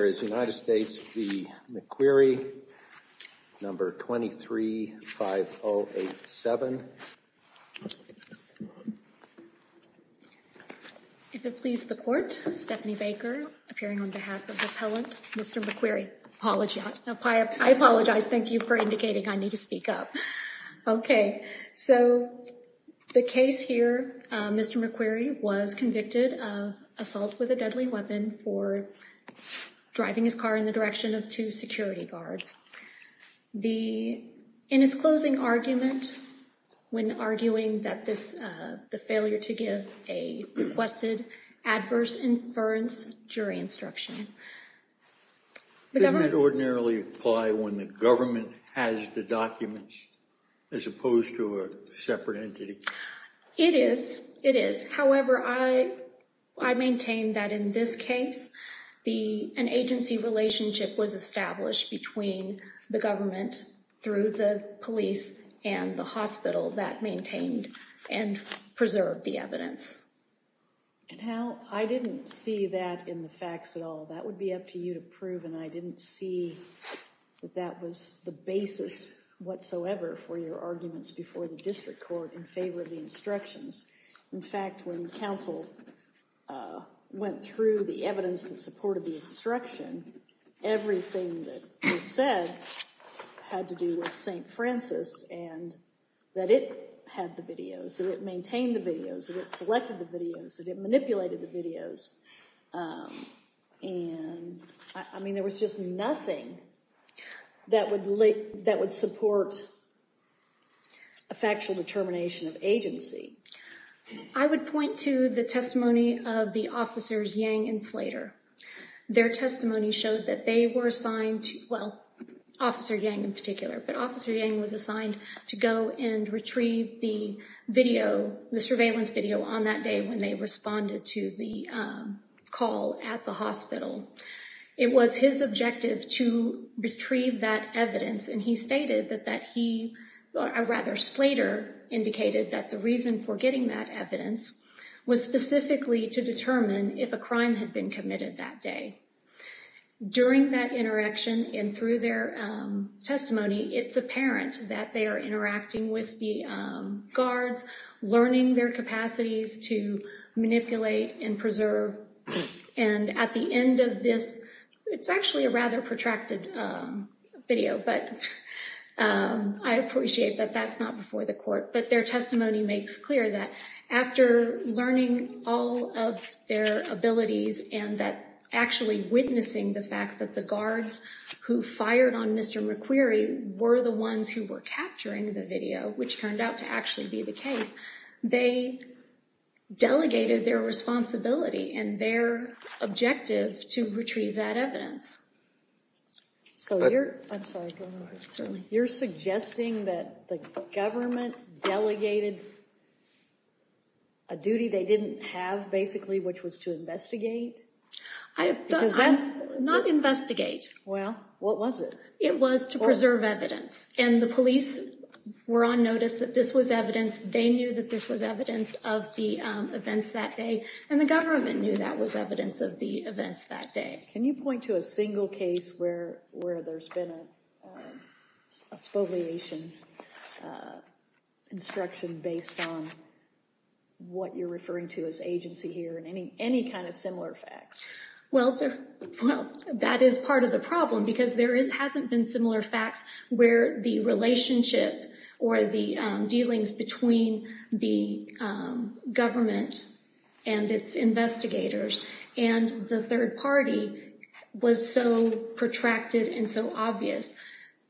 There is United States v. McQueary, No. 23-5087. If it please the Court, Stephanie Baker, appearing on behalf of the appellant, Mr. McQueary. Apologies. I apologize. Thank you for indicating I need to speak up. Okay. So the case here, Mr. McQueary was convicted of assault with a deadly weapon for driving his car in the direction of two security guards. In its closing argument, when arguing that this, the failure to give a requested adverse inference jury instruction, the government- Does that generally apply when the government has the documents as opposed to a separate entity? It is. It is. However, I maintain that in this case, an agency relationship was established between the government through the police and the hospital that maintained and preserved the evidence. And how? I didn't see that in the facts at all. That would be up to you to prove and I didn't see that that was the basis whatsoever for your arguments before the district court in favor of the instructions. In fact, when counsel went through the evidence in support of the instruction, everything that was said had to do with St. Francis and that it had the videos, that it maintained the videos, that it selected the videos, that it manipulated the videos, and I mean there was just nothing that would support a factual determination of agency. I would point to the testimony of the officers Yang and Slater. Their testimony showed that they were assigned, well, Officer Yang in particular, but Officer retrieved the surveillance video on that day when they responded to the call at the hospital. It was his objective to retrieve that evidence and he stated that he, or rather Slater, indicated that the reason for getting that evidence was specifically to determine if a crime had been committed that day. During that interaction and through their testimony, it's apparent that they are interacting with the guards, learning their capacities to manipulate and preserve, and at the end of this, it's actually a rather protracted video, but I appreciate that that's not before the court, but their testimony makes clear that after learning all of their abilities and that actually witnessing the fact that the guards who fired on Mr. McQueary were the ones who were capturing the video, which turned out to actually be the case, they delegated their responsibility and their objective to retrieve that evidence. So you're suggesting that the government delegated a duty they didn't have basically, which was to investigate? Not investigate. Well, what was it? It was to preserve evidence, and the police were on notice that this was evidence. They knew that this was evidence of the events that day, and the government knew that was evidence of the events that day. Can you point to a single case where there's been a spoliation instruction based on what you're referring to as agency here and any kind of similar facts? Well, that is part of the problem because there hasn't been similar facts where the relationship or the dealings between the government and its investigators and the third party was so protracted and so obvious.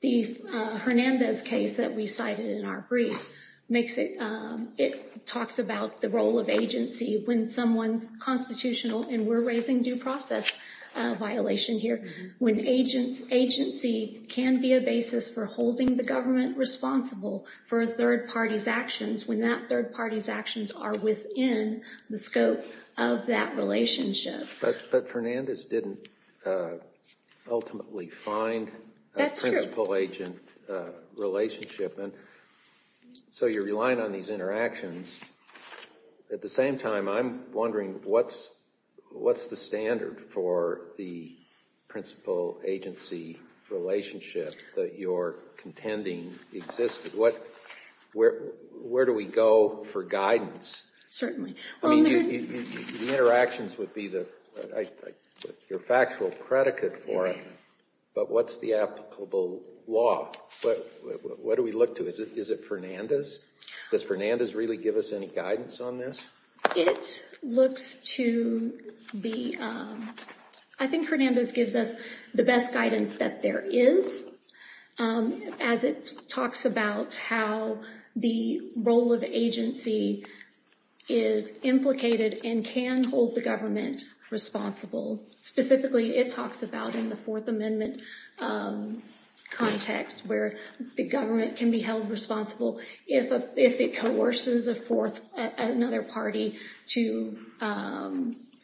The Hernandez case that we cited in our brief, it talks about the role of agency when someone's constitutional, and we're raising due process violation here, when agency can be a basis for holding the government responsible for a third party's actions when that third party's actions are within the scope of that relationship. But Fernandez didn't ultimately find a principal agent relationship, and so you're relying on these interactions. At the same time, I'm wondering what's the standard for the principal agency relationship that you're contending existed? Where do we go for guidance? Certainly. The interactions would be your factual predicate for it, but what's the applicable law? What do we look to? Is it Fernandez? Does Fernandez really give us any guidance on this? It looks to be, I think Fernandez gives us the best guidance that there is, as it talks about how the role of agency is implicated and can hold the government responsible. Specifically, it talks about in the Fourth Amendment context where the government can be held responsible if it coerces another party to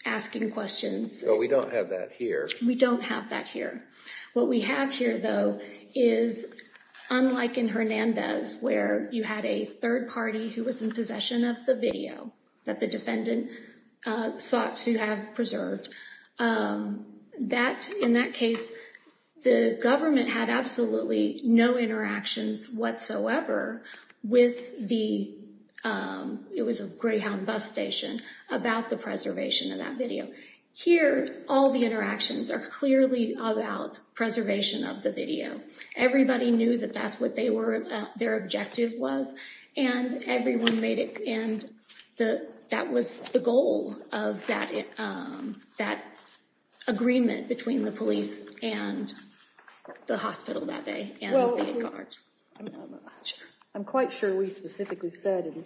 asking questions. We don't have that here. We don't have that here. What we have here, though, is unlike in Hernandez, where you had a third party who was in possession of the video that the defendant sought to have preserved, in that case, the government had absolutely no interactions whatsoever with the Greyhound bus station about the preservation of that video. Here, all the interactions are clearly about preservation of the video. Everybody knew that that's what their objective was, and that was the goal of that agreement between the police and the hospital that day and the safeguards. I'm quite sure we specifically said in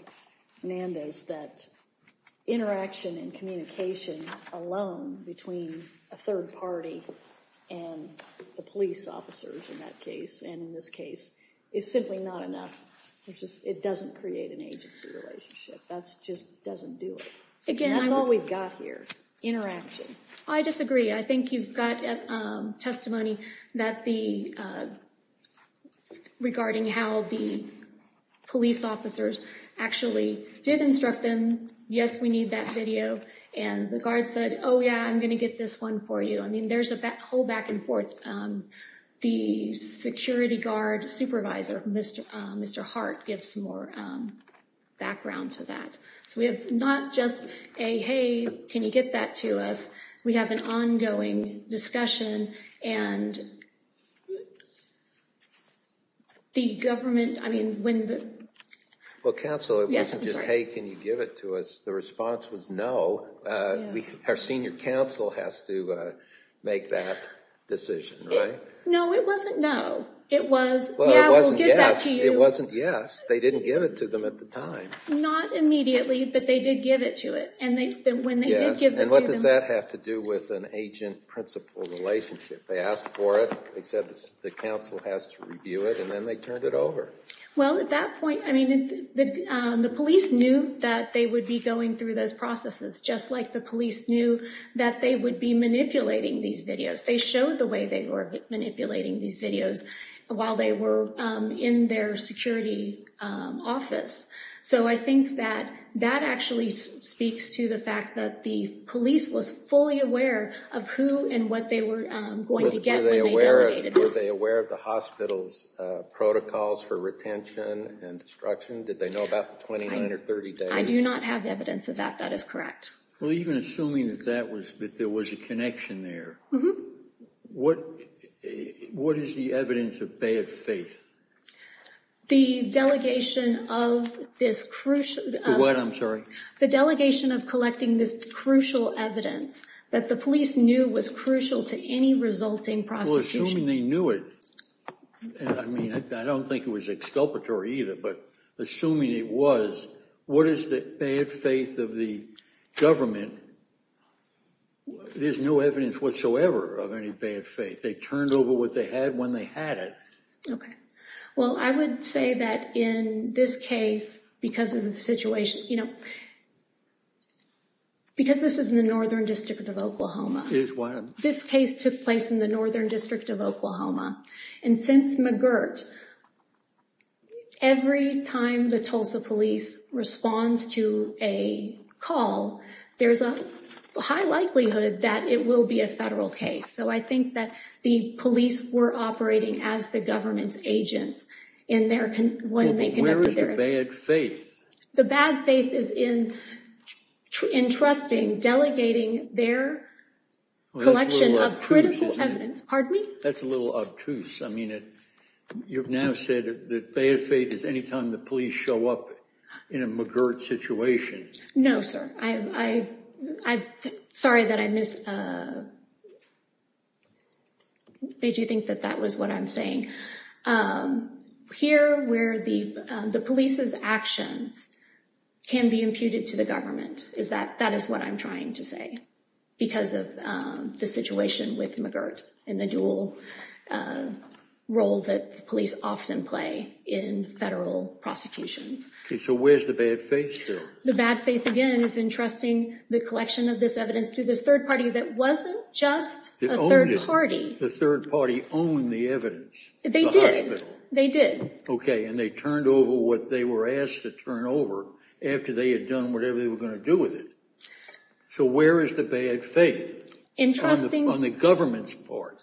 Hernandez that interaction and communication alone between a third party and the police officers in that case and in this case is simply not enough. It doesn't create an agency relationship. That just doesn't do it. Again, that's all we've got here, interaction. I disagree. I think you've got testimony regarding how the police officers actually did instruct them, yes, we need that video, and the guard said, oh, yeah, I'm going to get this one for you. I mean, there's a whole back and forth. The security guard supervisor, Mr. Hart, gives more background to that. We have not just a, hey, can you get that to us? We have an ongoing discussion, and the government, I mean, when the... Well, counsel, it wasn't just, hey, can you give it to us? The response was no. Our senior counsel has to make that decision, right? No, it wasn't no. It was, yeah, we'll give that to you. It wasn't yes. They didn't give it to them at the time. Not immediately, but they did give it to it, and when they did give it to them... And what does that have to do with an agent-principal relationship? They asked for it, they said the counsel has to review it, and then they turned it over. Well, at that point, I mean, the police knew that they would be going through those processes, just like the police knew that they would be manipulating these videos. They showed the way they were manipulating these videos while they were in their security office. So I think that that actually speaks to the fact that the police was fully aware of who and what they were going to get when they delegated this. Were they aware of the hospital's protocols for retention and destruction? Did they know about the 29 or 30 days? I do not have evidence of that. That is correct. Well, even assuming that there was a connection there, what is the evidence of bad faith? The delegation of this crucial... What? I'm sorry? The delegation of collecting this crucial evidence that the police knew was crucial to any resulting prosecution. Well, assuming they knew it, I mean, I don't think it was exculpatory either, but assuming it was, what is the bad faith of the government? There's no evidence whatsoever of any bad faith. They turned over what they had when they had it. Okay. Well, I would say that in this case, because of the situation, because this is in the Northern District of Oklahoma, this case took place in the Northern District of Oklahoma. And since McGirt, every time the Tulsa police responds to a call, there's a high likelihood that it will be a federal case. So I think that the police were operating as the government's agents in their... When they conducted their... Well, but where is the bad faith? The bad faith is in entrusting, delegating their collection of critical evidence. Pardon me? That's a little obtuse. I mean, you've now said that bad faith is any time the police show up in a McGirt situation. No, sir. I... Sorry that I missed... Made you think that that was what I'm saying. Here where the police's actions can be imputed to the government, that is what I'm trying to say, because of the situation with McGirt and the dual role that police often play in federal prosecutions. Okay. So where's the bad faith here? The bad faith, again, is entrusting the collection of this evidence to this third party that wasn't just a third party. The third party owned the evidence. They did. They did. Okay. And they turned over what they were asked to turn over after they had done whatever they were going to do with it. So where is the bad faith on the government's part?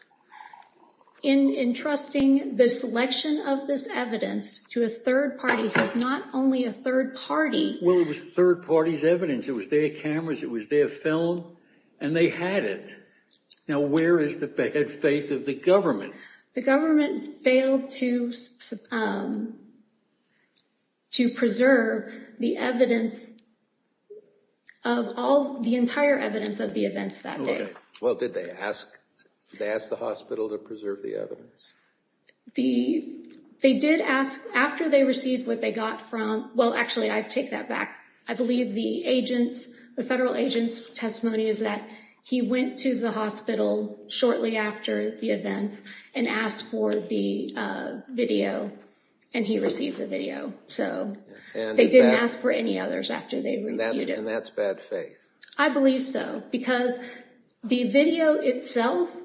Entrusting the selection of this evidence to a third party, who's not only a third party- Well, it was third party's evidence. It was their cameras, it was their film, and they had it. Now where is the bad faith of the government? The government failed to preserve the evidence of all, the entire evidence of the events that day. Well, did they ask? Did they ask the hospital to preserve the evidence? The, they did ask, after they received what they got from, well, actually, I take that back. I believe the agent's, the federal agent's testimony is that he went to the hospital shortly after the events and asked for the video and he received the video. So they didn't ask for any others after they reviewed it. And that's bad faith? I believe so. Because the video itself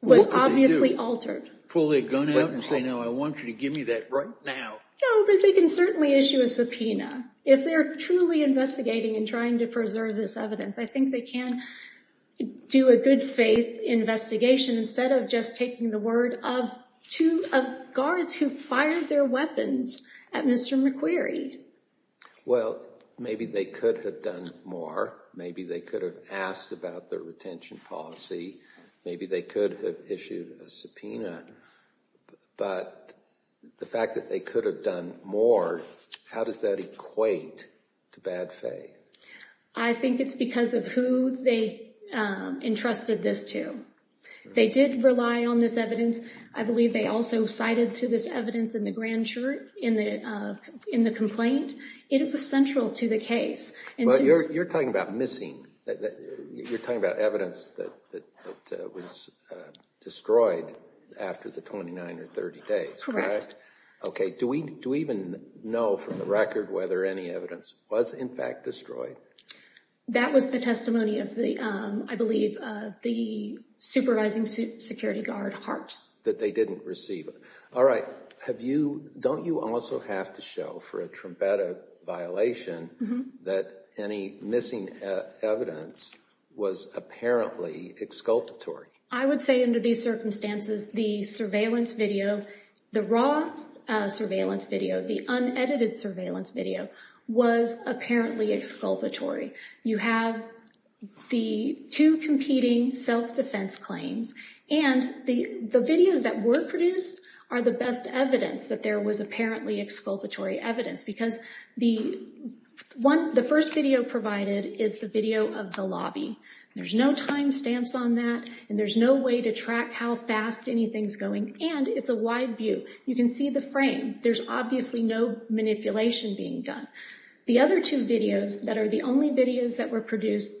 was obviously altered. Pull their gun out and say, no, I want you to give me that right now. No, but they can certainly issue a subpoena. If they're truly investigating and trying to preserve this evidence, I think they can do a good faith investigation instead of just taking the word of two, of guards who fired their weapons at Mr. McQueary. Well, maybe they could have done more. Maybe they could have asked about their retention policy. Maybe they could have issued a subpoena. But the fact that they could have done more, how does that equate to bad faith? I think it's because of who they entrusted this to. They did rely on this evidence. I believe they also cited to this evidence in the grand jury, in the complaint. It was central to the case. You're talking about missing. You're talking about evidence that was destroyed after the 29 or 30 days, correct? Do we even know from the record whether any evidence was in fact destroyed? That was the testimony of the, I believe, the supervising security guard Hart. That they didn't receive. All right. Don't you also have to show for a Trumpetta violation that any missing evidence was apparently exculpatory? I would say under these circumstances, the surveillance video, the raw surveillance video, the unedited surveillance video, was apparently exculpatory. You have the two competing self-defense claims, and the videos that were produced are the best evidence that there was apparently exculpatory evidence. Because the first video provided is the video of the lobby. There's no time stamps on that, and there's no way to track how fast anything's going, and it's a wide view. You can see the frame. There's obviously no manipulation being done. The other two videos that are the only videos that were produced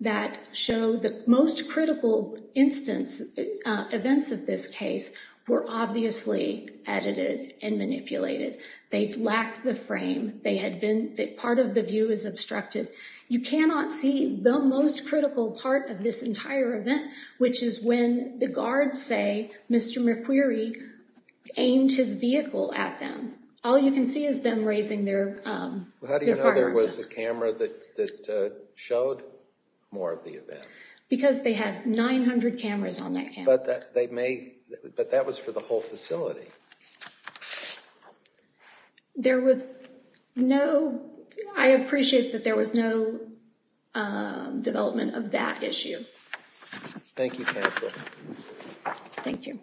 that show the most critical instance, events of this case, were obviously edited and manipulated. They lacked the frame. They had been, part of the view is obstructed. You cannot see the most critical part of this entire event, which is when the guards say Mr. McQueary aimed his vehicle at them. All you can see is them raising their firearms. How do you know there was a camera that showed more of the event? Because they had 900 cameras on that camera. But that was for the whole facility. There was no, I appreciate that there was no development of that issue. Thank you counsel. Thank you.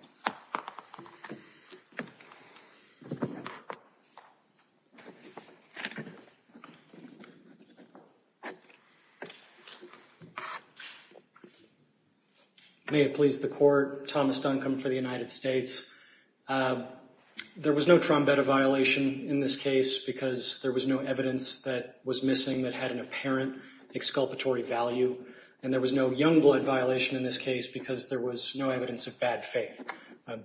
May it please the court, Thomas Duncombe for the United States. There was no trombetta violation in this case because there was no evidence that was missing that had an apparent exculpatory value, and there was no young blood violation in this case because there was no evidence of bad faith.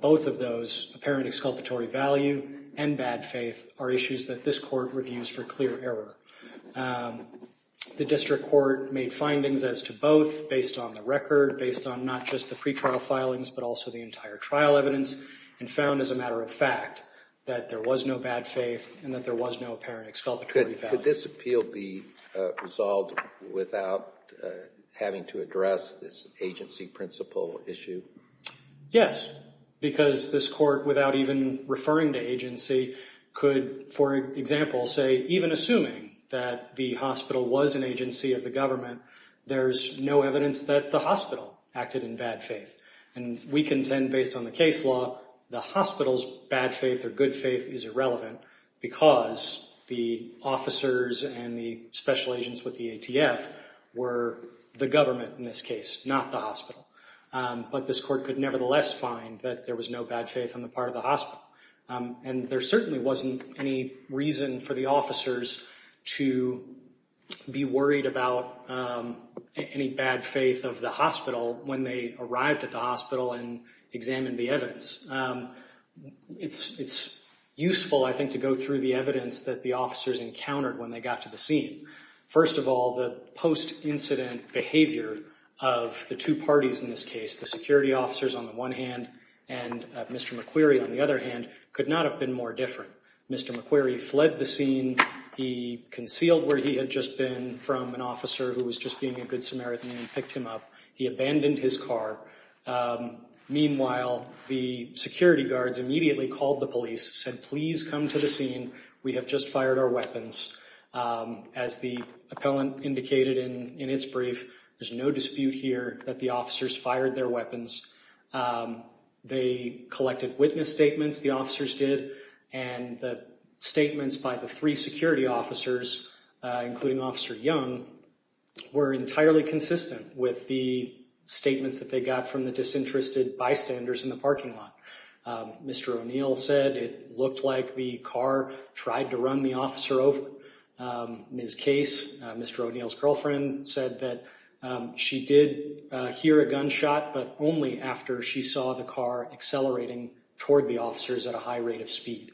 Both of those, apparent exculpatory value and bad faith, are issues that this court reviews for clear error. The district court made findings as to both based on the record, based on not just the pretrial filings but also the entire trial evidence, and found as a matter of fact that there was no bad faith and that there was no apparent exculpatory value. Could this appeal be resolved without having to address this agency principle issue? Yes, because this court, without even referring to agency, could, for example, say even assuming that the hospital was an agency of the government, there's no evidence that the hospital acted in bad faith. And we contend based on the case law, the hospital's bad faith or good faith is irrelevant because the officers and the special agents with the ATF were the government in this case, not the hospital. But this court could nevertheless find that there was no bad faith on the part of the hospital. And there certainly wasn't any reason for the officers to be worried about any bad faith of the hospital when they arrived at the hospital and examined the evidence. It's useful, I think, to go through the evidence that the officers encountered when they got to the scene. First of all, the post-incident behavior of the two parties in this case, the security officers on the one hand and Mr. McQuarrie on the other hand, could not have been more different. Mr. McQuarrie fled the scene, he concealed where he had just been from an officer who was just being a good Samaritan and picked him up. He abandoned his car. Meanwhile, the security guards immediately called the police and said, please come to the scene. We have just fired our weapons. As the appellant indicated in its brief, there's no dispute here that the officers fired their weapons. They collected witness statements, the officers did, and the statements by the three security officers, including Officer Young, were entirely consistent with the statements that they got from the disinterested bystanders in the parking lot. Mr. O'Neill said it looked like the car tried to run the officer over. Ms. Case, Mr. O'Neill's girlfriend, said that she did hear a gunshot, but only after she saw the car accelerating toward the officers at a high rate of speed.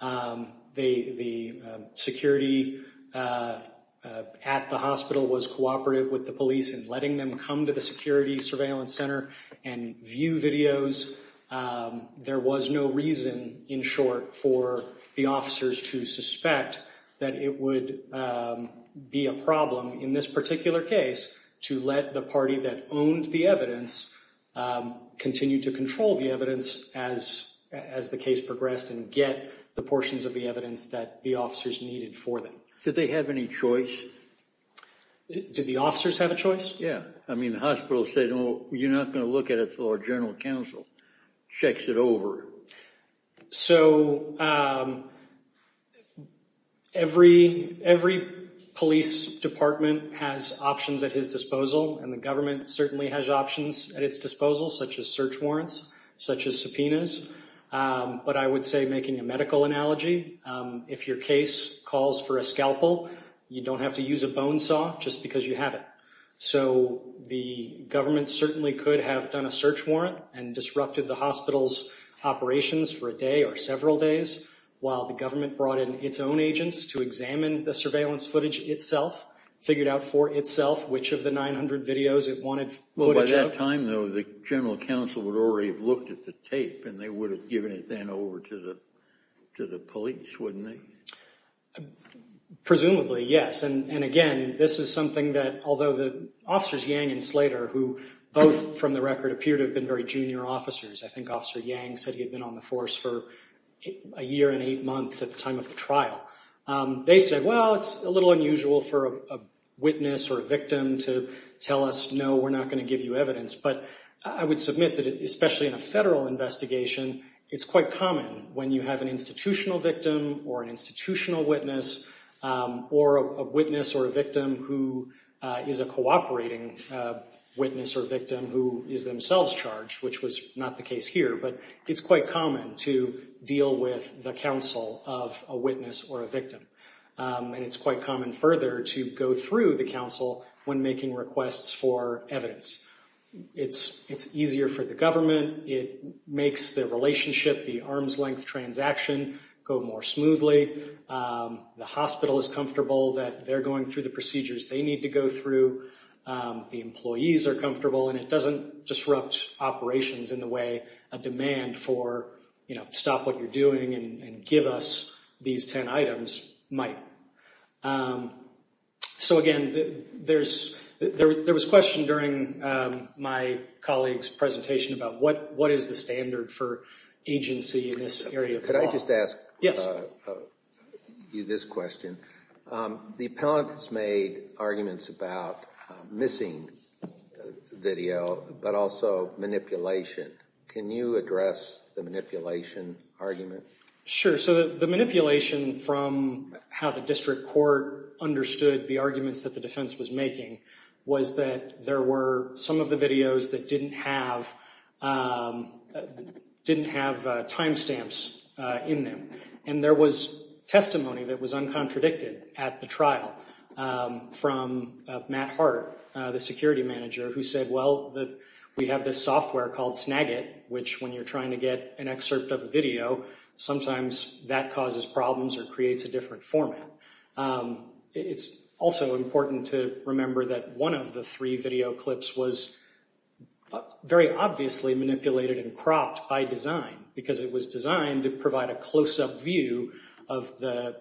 The security at the hospital was cooperative with the police in letting them come to the There was no reason, in short, for the officers to suspect that it would be a problem in this particular case to let the party that owned the evidence continue to control the evidence as the case progressed and get the portions of the evidence that the officers needed for them. Did they have any choice? Did the officers have a choice? Yeah. I mean, the hospital said, oh, you're not going to look at it until our general counsel checks it over. So every police department has options at his disposal, and the government certainly has options at its disposal, such as search warrants, such as subpoenas. But I would say, making a medical analogy, if your case calls for a scalpel, you don't have to use a bone saw just because you have it. So the government certainly could have done a search warrant and disrupted the hospital's operations for a day or several days, while the government brought in its own agents to examine the surveillance footage itself, figured out for itself which of the 900 videos it wanted footage of. So by that time, though, the general counsel would already have looked at the tape, and they would have given it then over to the police, wouldn't they? Presumably, yes. And again, this is something that, although the officers, Yang and Slater, who both, from the record, appear to have been very junior officers, I think Officer Yang said he had been on the force for a year and eight months at the time of the trial, they said, well, it's a little unusual for a witness or a victim to tell us, no, we're not going to give you evidence. But I would submit that, especially in a federal investigation, it's quite common when you have an institutional victim or an institutional witness or a witness or a victim who is a cooperating witness or victim who is themselves charged, which was not the case here. But it's quite common to deal with the counsel of a witness or a victim. And it's quite common further to go through the counsel when making requests for evidence. It's easier for the government. It makes the relationship, the arm's length transaction, go more smoothly. The hospital is comfortable that they're going through the procedures they need to go through. The employees are comfortable. And it doesn't disrupt operations in the way a demand for, you know, stop what you're doing and give us these 10 items might. So, again, there was a question during my colleague's presentation about what is the standard for agency in this area of law? Could I just ask you this question? The appellant has made arguments about missing video, but also manipulation. Can you address the manipulation argument? Sure. So the manipulation from how the district court understood the arguments that the defense was making was that there were some of the videos that didn't have timestamps in them. And there was testimony that was uncontradicted at the trial from Matt Hart, the security manager, who said, well, we have this software called Snagit, which when you're trying to get an excerpt of a video, sometimes that causes problems or creates a different format. It's also important to remember that one of the three video clips was very obviously manipulated and cropped by design because it was designed to provide a close-up view of the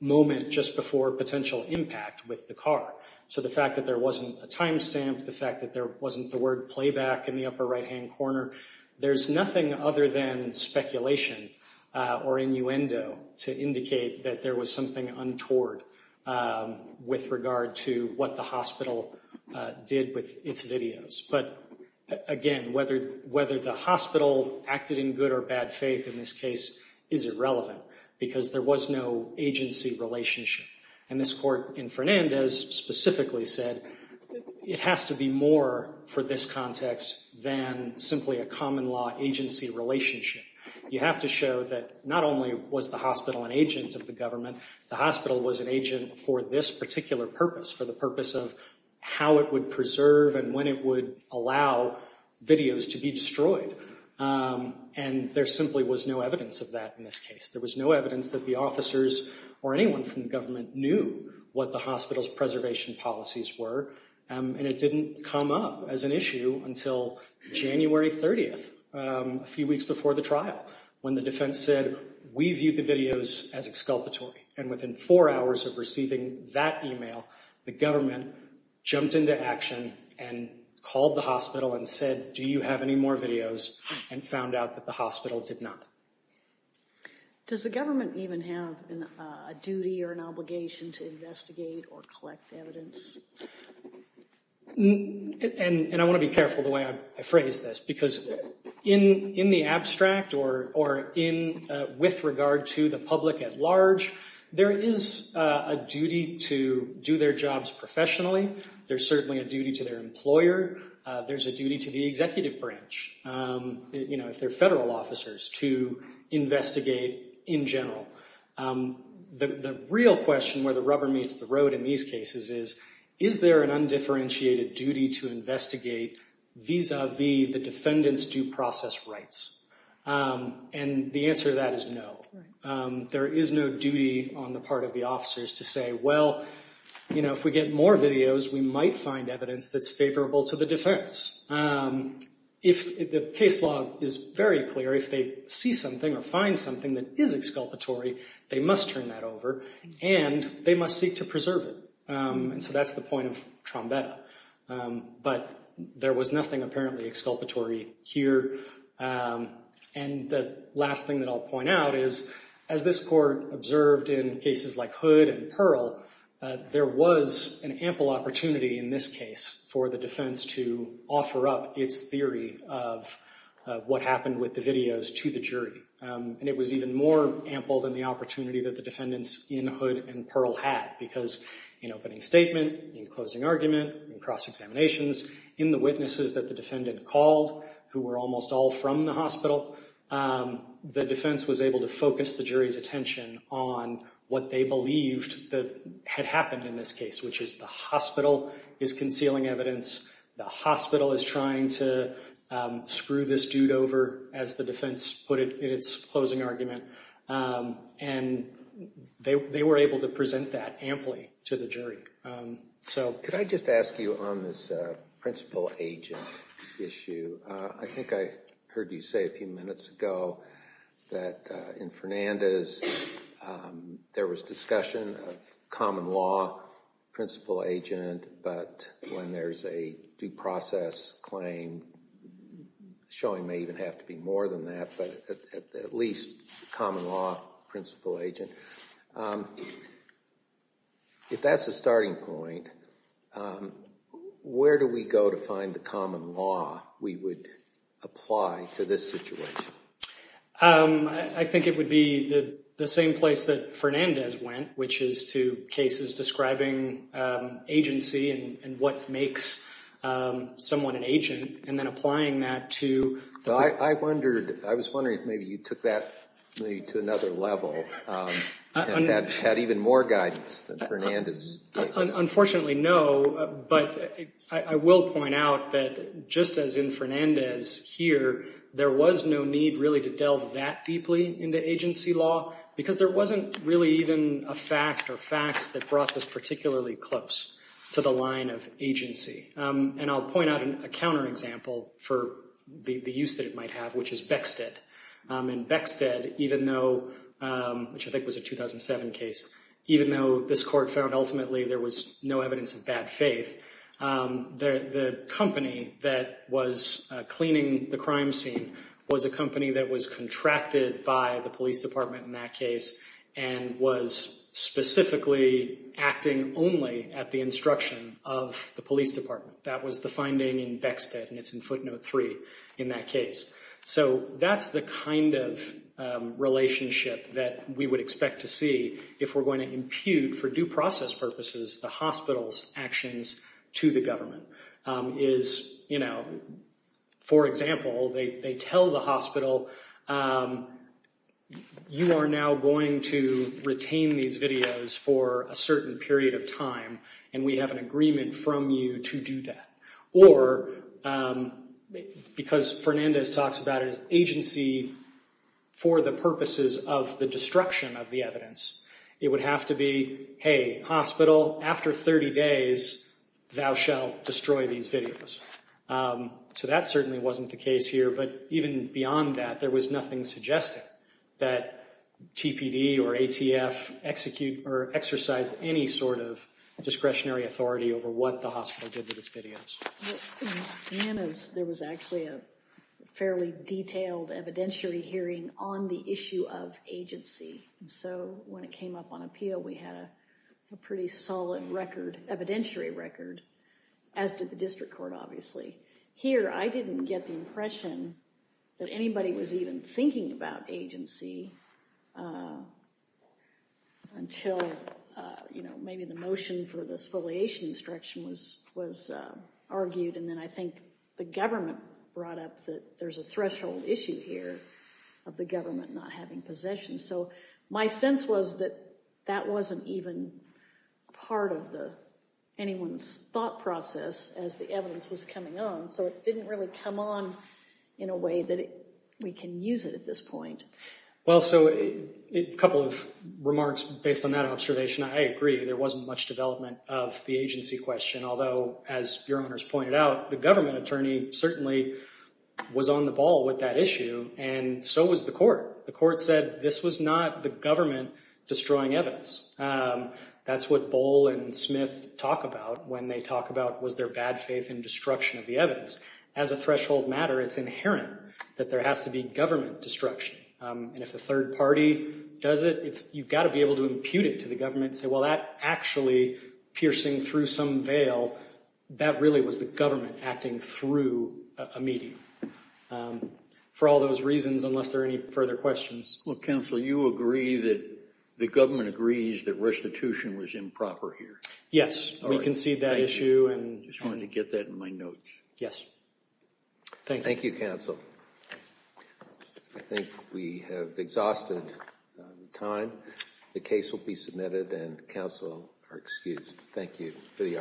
moment just before potential impact with the car. So the fact that there wasn't a timestamp, the fact that there wasn't the word playback in the upper right-hand corner, there's nothing other than speculation or innuendo to indicate that there was something untoward with regard to what the hospital did with its videos. But, again, whether the hospital acted in good or bad faith in this case is irrelevant because there was no agency relationship. And this court in Fernandez specifically said it has to be more for this context than simply a common law agency relationship. You have to show that not only was the hospital an agent of the government, the hospital was an agent for this particular purpose, for the purpose of how it would preserve and when it would allow videos to be destroyed. And there simply was no evidence of that in this case. There was no evidence that the officers or anyone from the government knew what the hospital's preservation policies were, and it didn't come up as an issue until January 30th, a few weeks before the trial, when the defense said, we view the videos as exculpatory. And within four hours of receiving that email, the government jumped into action and called the hospital and said, do you have any more videos, and found out that the hospital did not. Does the government even have a duty or an obligation to investigate or collect evidence? And I want to be careful the way I phrase this, because in the abstract or with regard to the public at large, there is a duty to do their jobs professionally. There's certainly a duty to their employer. There's a duty to the executive branch. You know, if they're federal officers, to investigate in general. The real question where the rubber meets the road in these cases is, is there an undifferentiated duty to investigate vis-a-vis the defendant's due process rights? And the answer to that is no. There is no duty on the part of the officers to say, well, you know, if we get more videos, we might find evidence that's favorable to the defense. If the case law is very clear, if they see something or find something that is exculpatory, they must turn that over and they must seek to preserve it. And so that's the point of Trombetta. But there was nothing apparently exculpatory here. And the last thing that I'll point out is, as this court observed in cases like Hood and Pearl, there was an ample opportunity in this case for the defense to offer up its theory of what happened with the videos to the jury. And it was even more ample than the opportunity that the defendants in Hood and Pearl had, because in opening statement, in closing argument, in cross-examinations, in the witnesses that the defendant called, who were almost all from the hospital, the defense was able to focus the jury's attention on what they believed that had happened in this case, which is the hospital is concealing evidence. The hospital is trying to screw this dude over, as the defense put it in its closing argument. And they were able to present that amply to the jury. So could I just ask you on this principal agent issue, I think I heard you say a few minutes ago that in Fernandez there was discussion of common law, principal agent, but when there's a due process claim, showing may even have to be more than that, but at least common law, principal agent. If that's the starting point, where do we go to find the common law we would apply to this situation? I think it would be the same place that Fernandez went, which is to cases describing agency and what makes someone an agent, and then applying that to the- I was wondering if maybe you took that to another level, and had even more guidance than Fernandez. Unfortunately, no, but I will point out that just as in Fernandez here, there was no need really to delve that deeply into agency law, because there wasn't really even a fact or facts that brought this particularly close to the line of agency. And I'll point out a counterexample for the use that it might have, which is Beckstead. In Beckstead, even though, which I think was a 2007 case, even though this court found ultimately there was no evidence of bad faith, the company that was cleaning the crime scene was a company that was contracted by the police department in that case, and was specifically acting only at the instruction of the police department. That was the finding in Beckstead, and it's in footnote three in that case. So that's the kind of relationship that we would expect to see if we're going to impute, for due process purposes, the hospital's actions to the government. For example, they tell the hospital, you are now going to retain these videos for a certain period of time, and we have an agreement from you to do that. Or, because Fernandez talks about agency for the purposes of the destruction of the evidence, it would have to be, hey, hospital, after 30 days, thou shall destroy these videos. So that certainly wasn't the case here, but even beyond that, there was nothing suggesting that TPD or ATF execute or exercise any sort of discretionary authority over what the hospital did with its videos. In Fernandez, there was actually a fairly detailed evidentiary hearing on the issue of agency. So when it came up on appeal, we had a pretty solid record, evidentiary record, as did the district court, obviously. Here, I didn't get the impression that anybody was even thinking about agency until maybe the motion for the spoliation instruction was argued, and then I think the government brought up that there's a threshold issue here of the government not having possession. So my sense was that that wasn't even part of anyone's thought process as the evidence was coming on, so it didn't really come on in a way that we can use it at this point. Well, so a couple of remarks based on that observation. I agree there wasn't much development of the agency question, although, as Your Honors pointed out, the government attorney certainly was on the ball with that issue, and so was the court. The court said this was not the government destroying evidence. That's what Bohl and Smith talk about when they talk about was their bad faith in destruction of the evidence. As a threshold matter, it's inherent that there has to be government destruction, and if the third party does it, you've got to be able to impute it to the government and say, well, that actually, piercing through some veil, that really was the government acting through a medium. For all those reasons, unless there are any further questions. Well, counsel, you agree that the government agrees that restitution was improper here? Yes, we concede that issue. I just wanted to get that in my notes. Yes. Thank you. Thank you, counsel. I think we have exhausted time. The case will be submitted and counsel are excused. Thank you for the opportunity.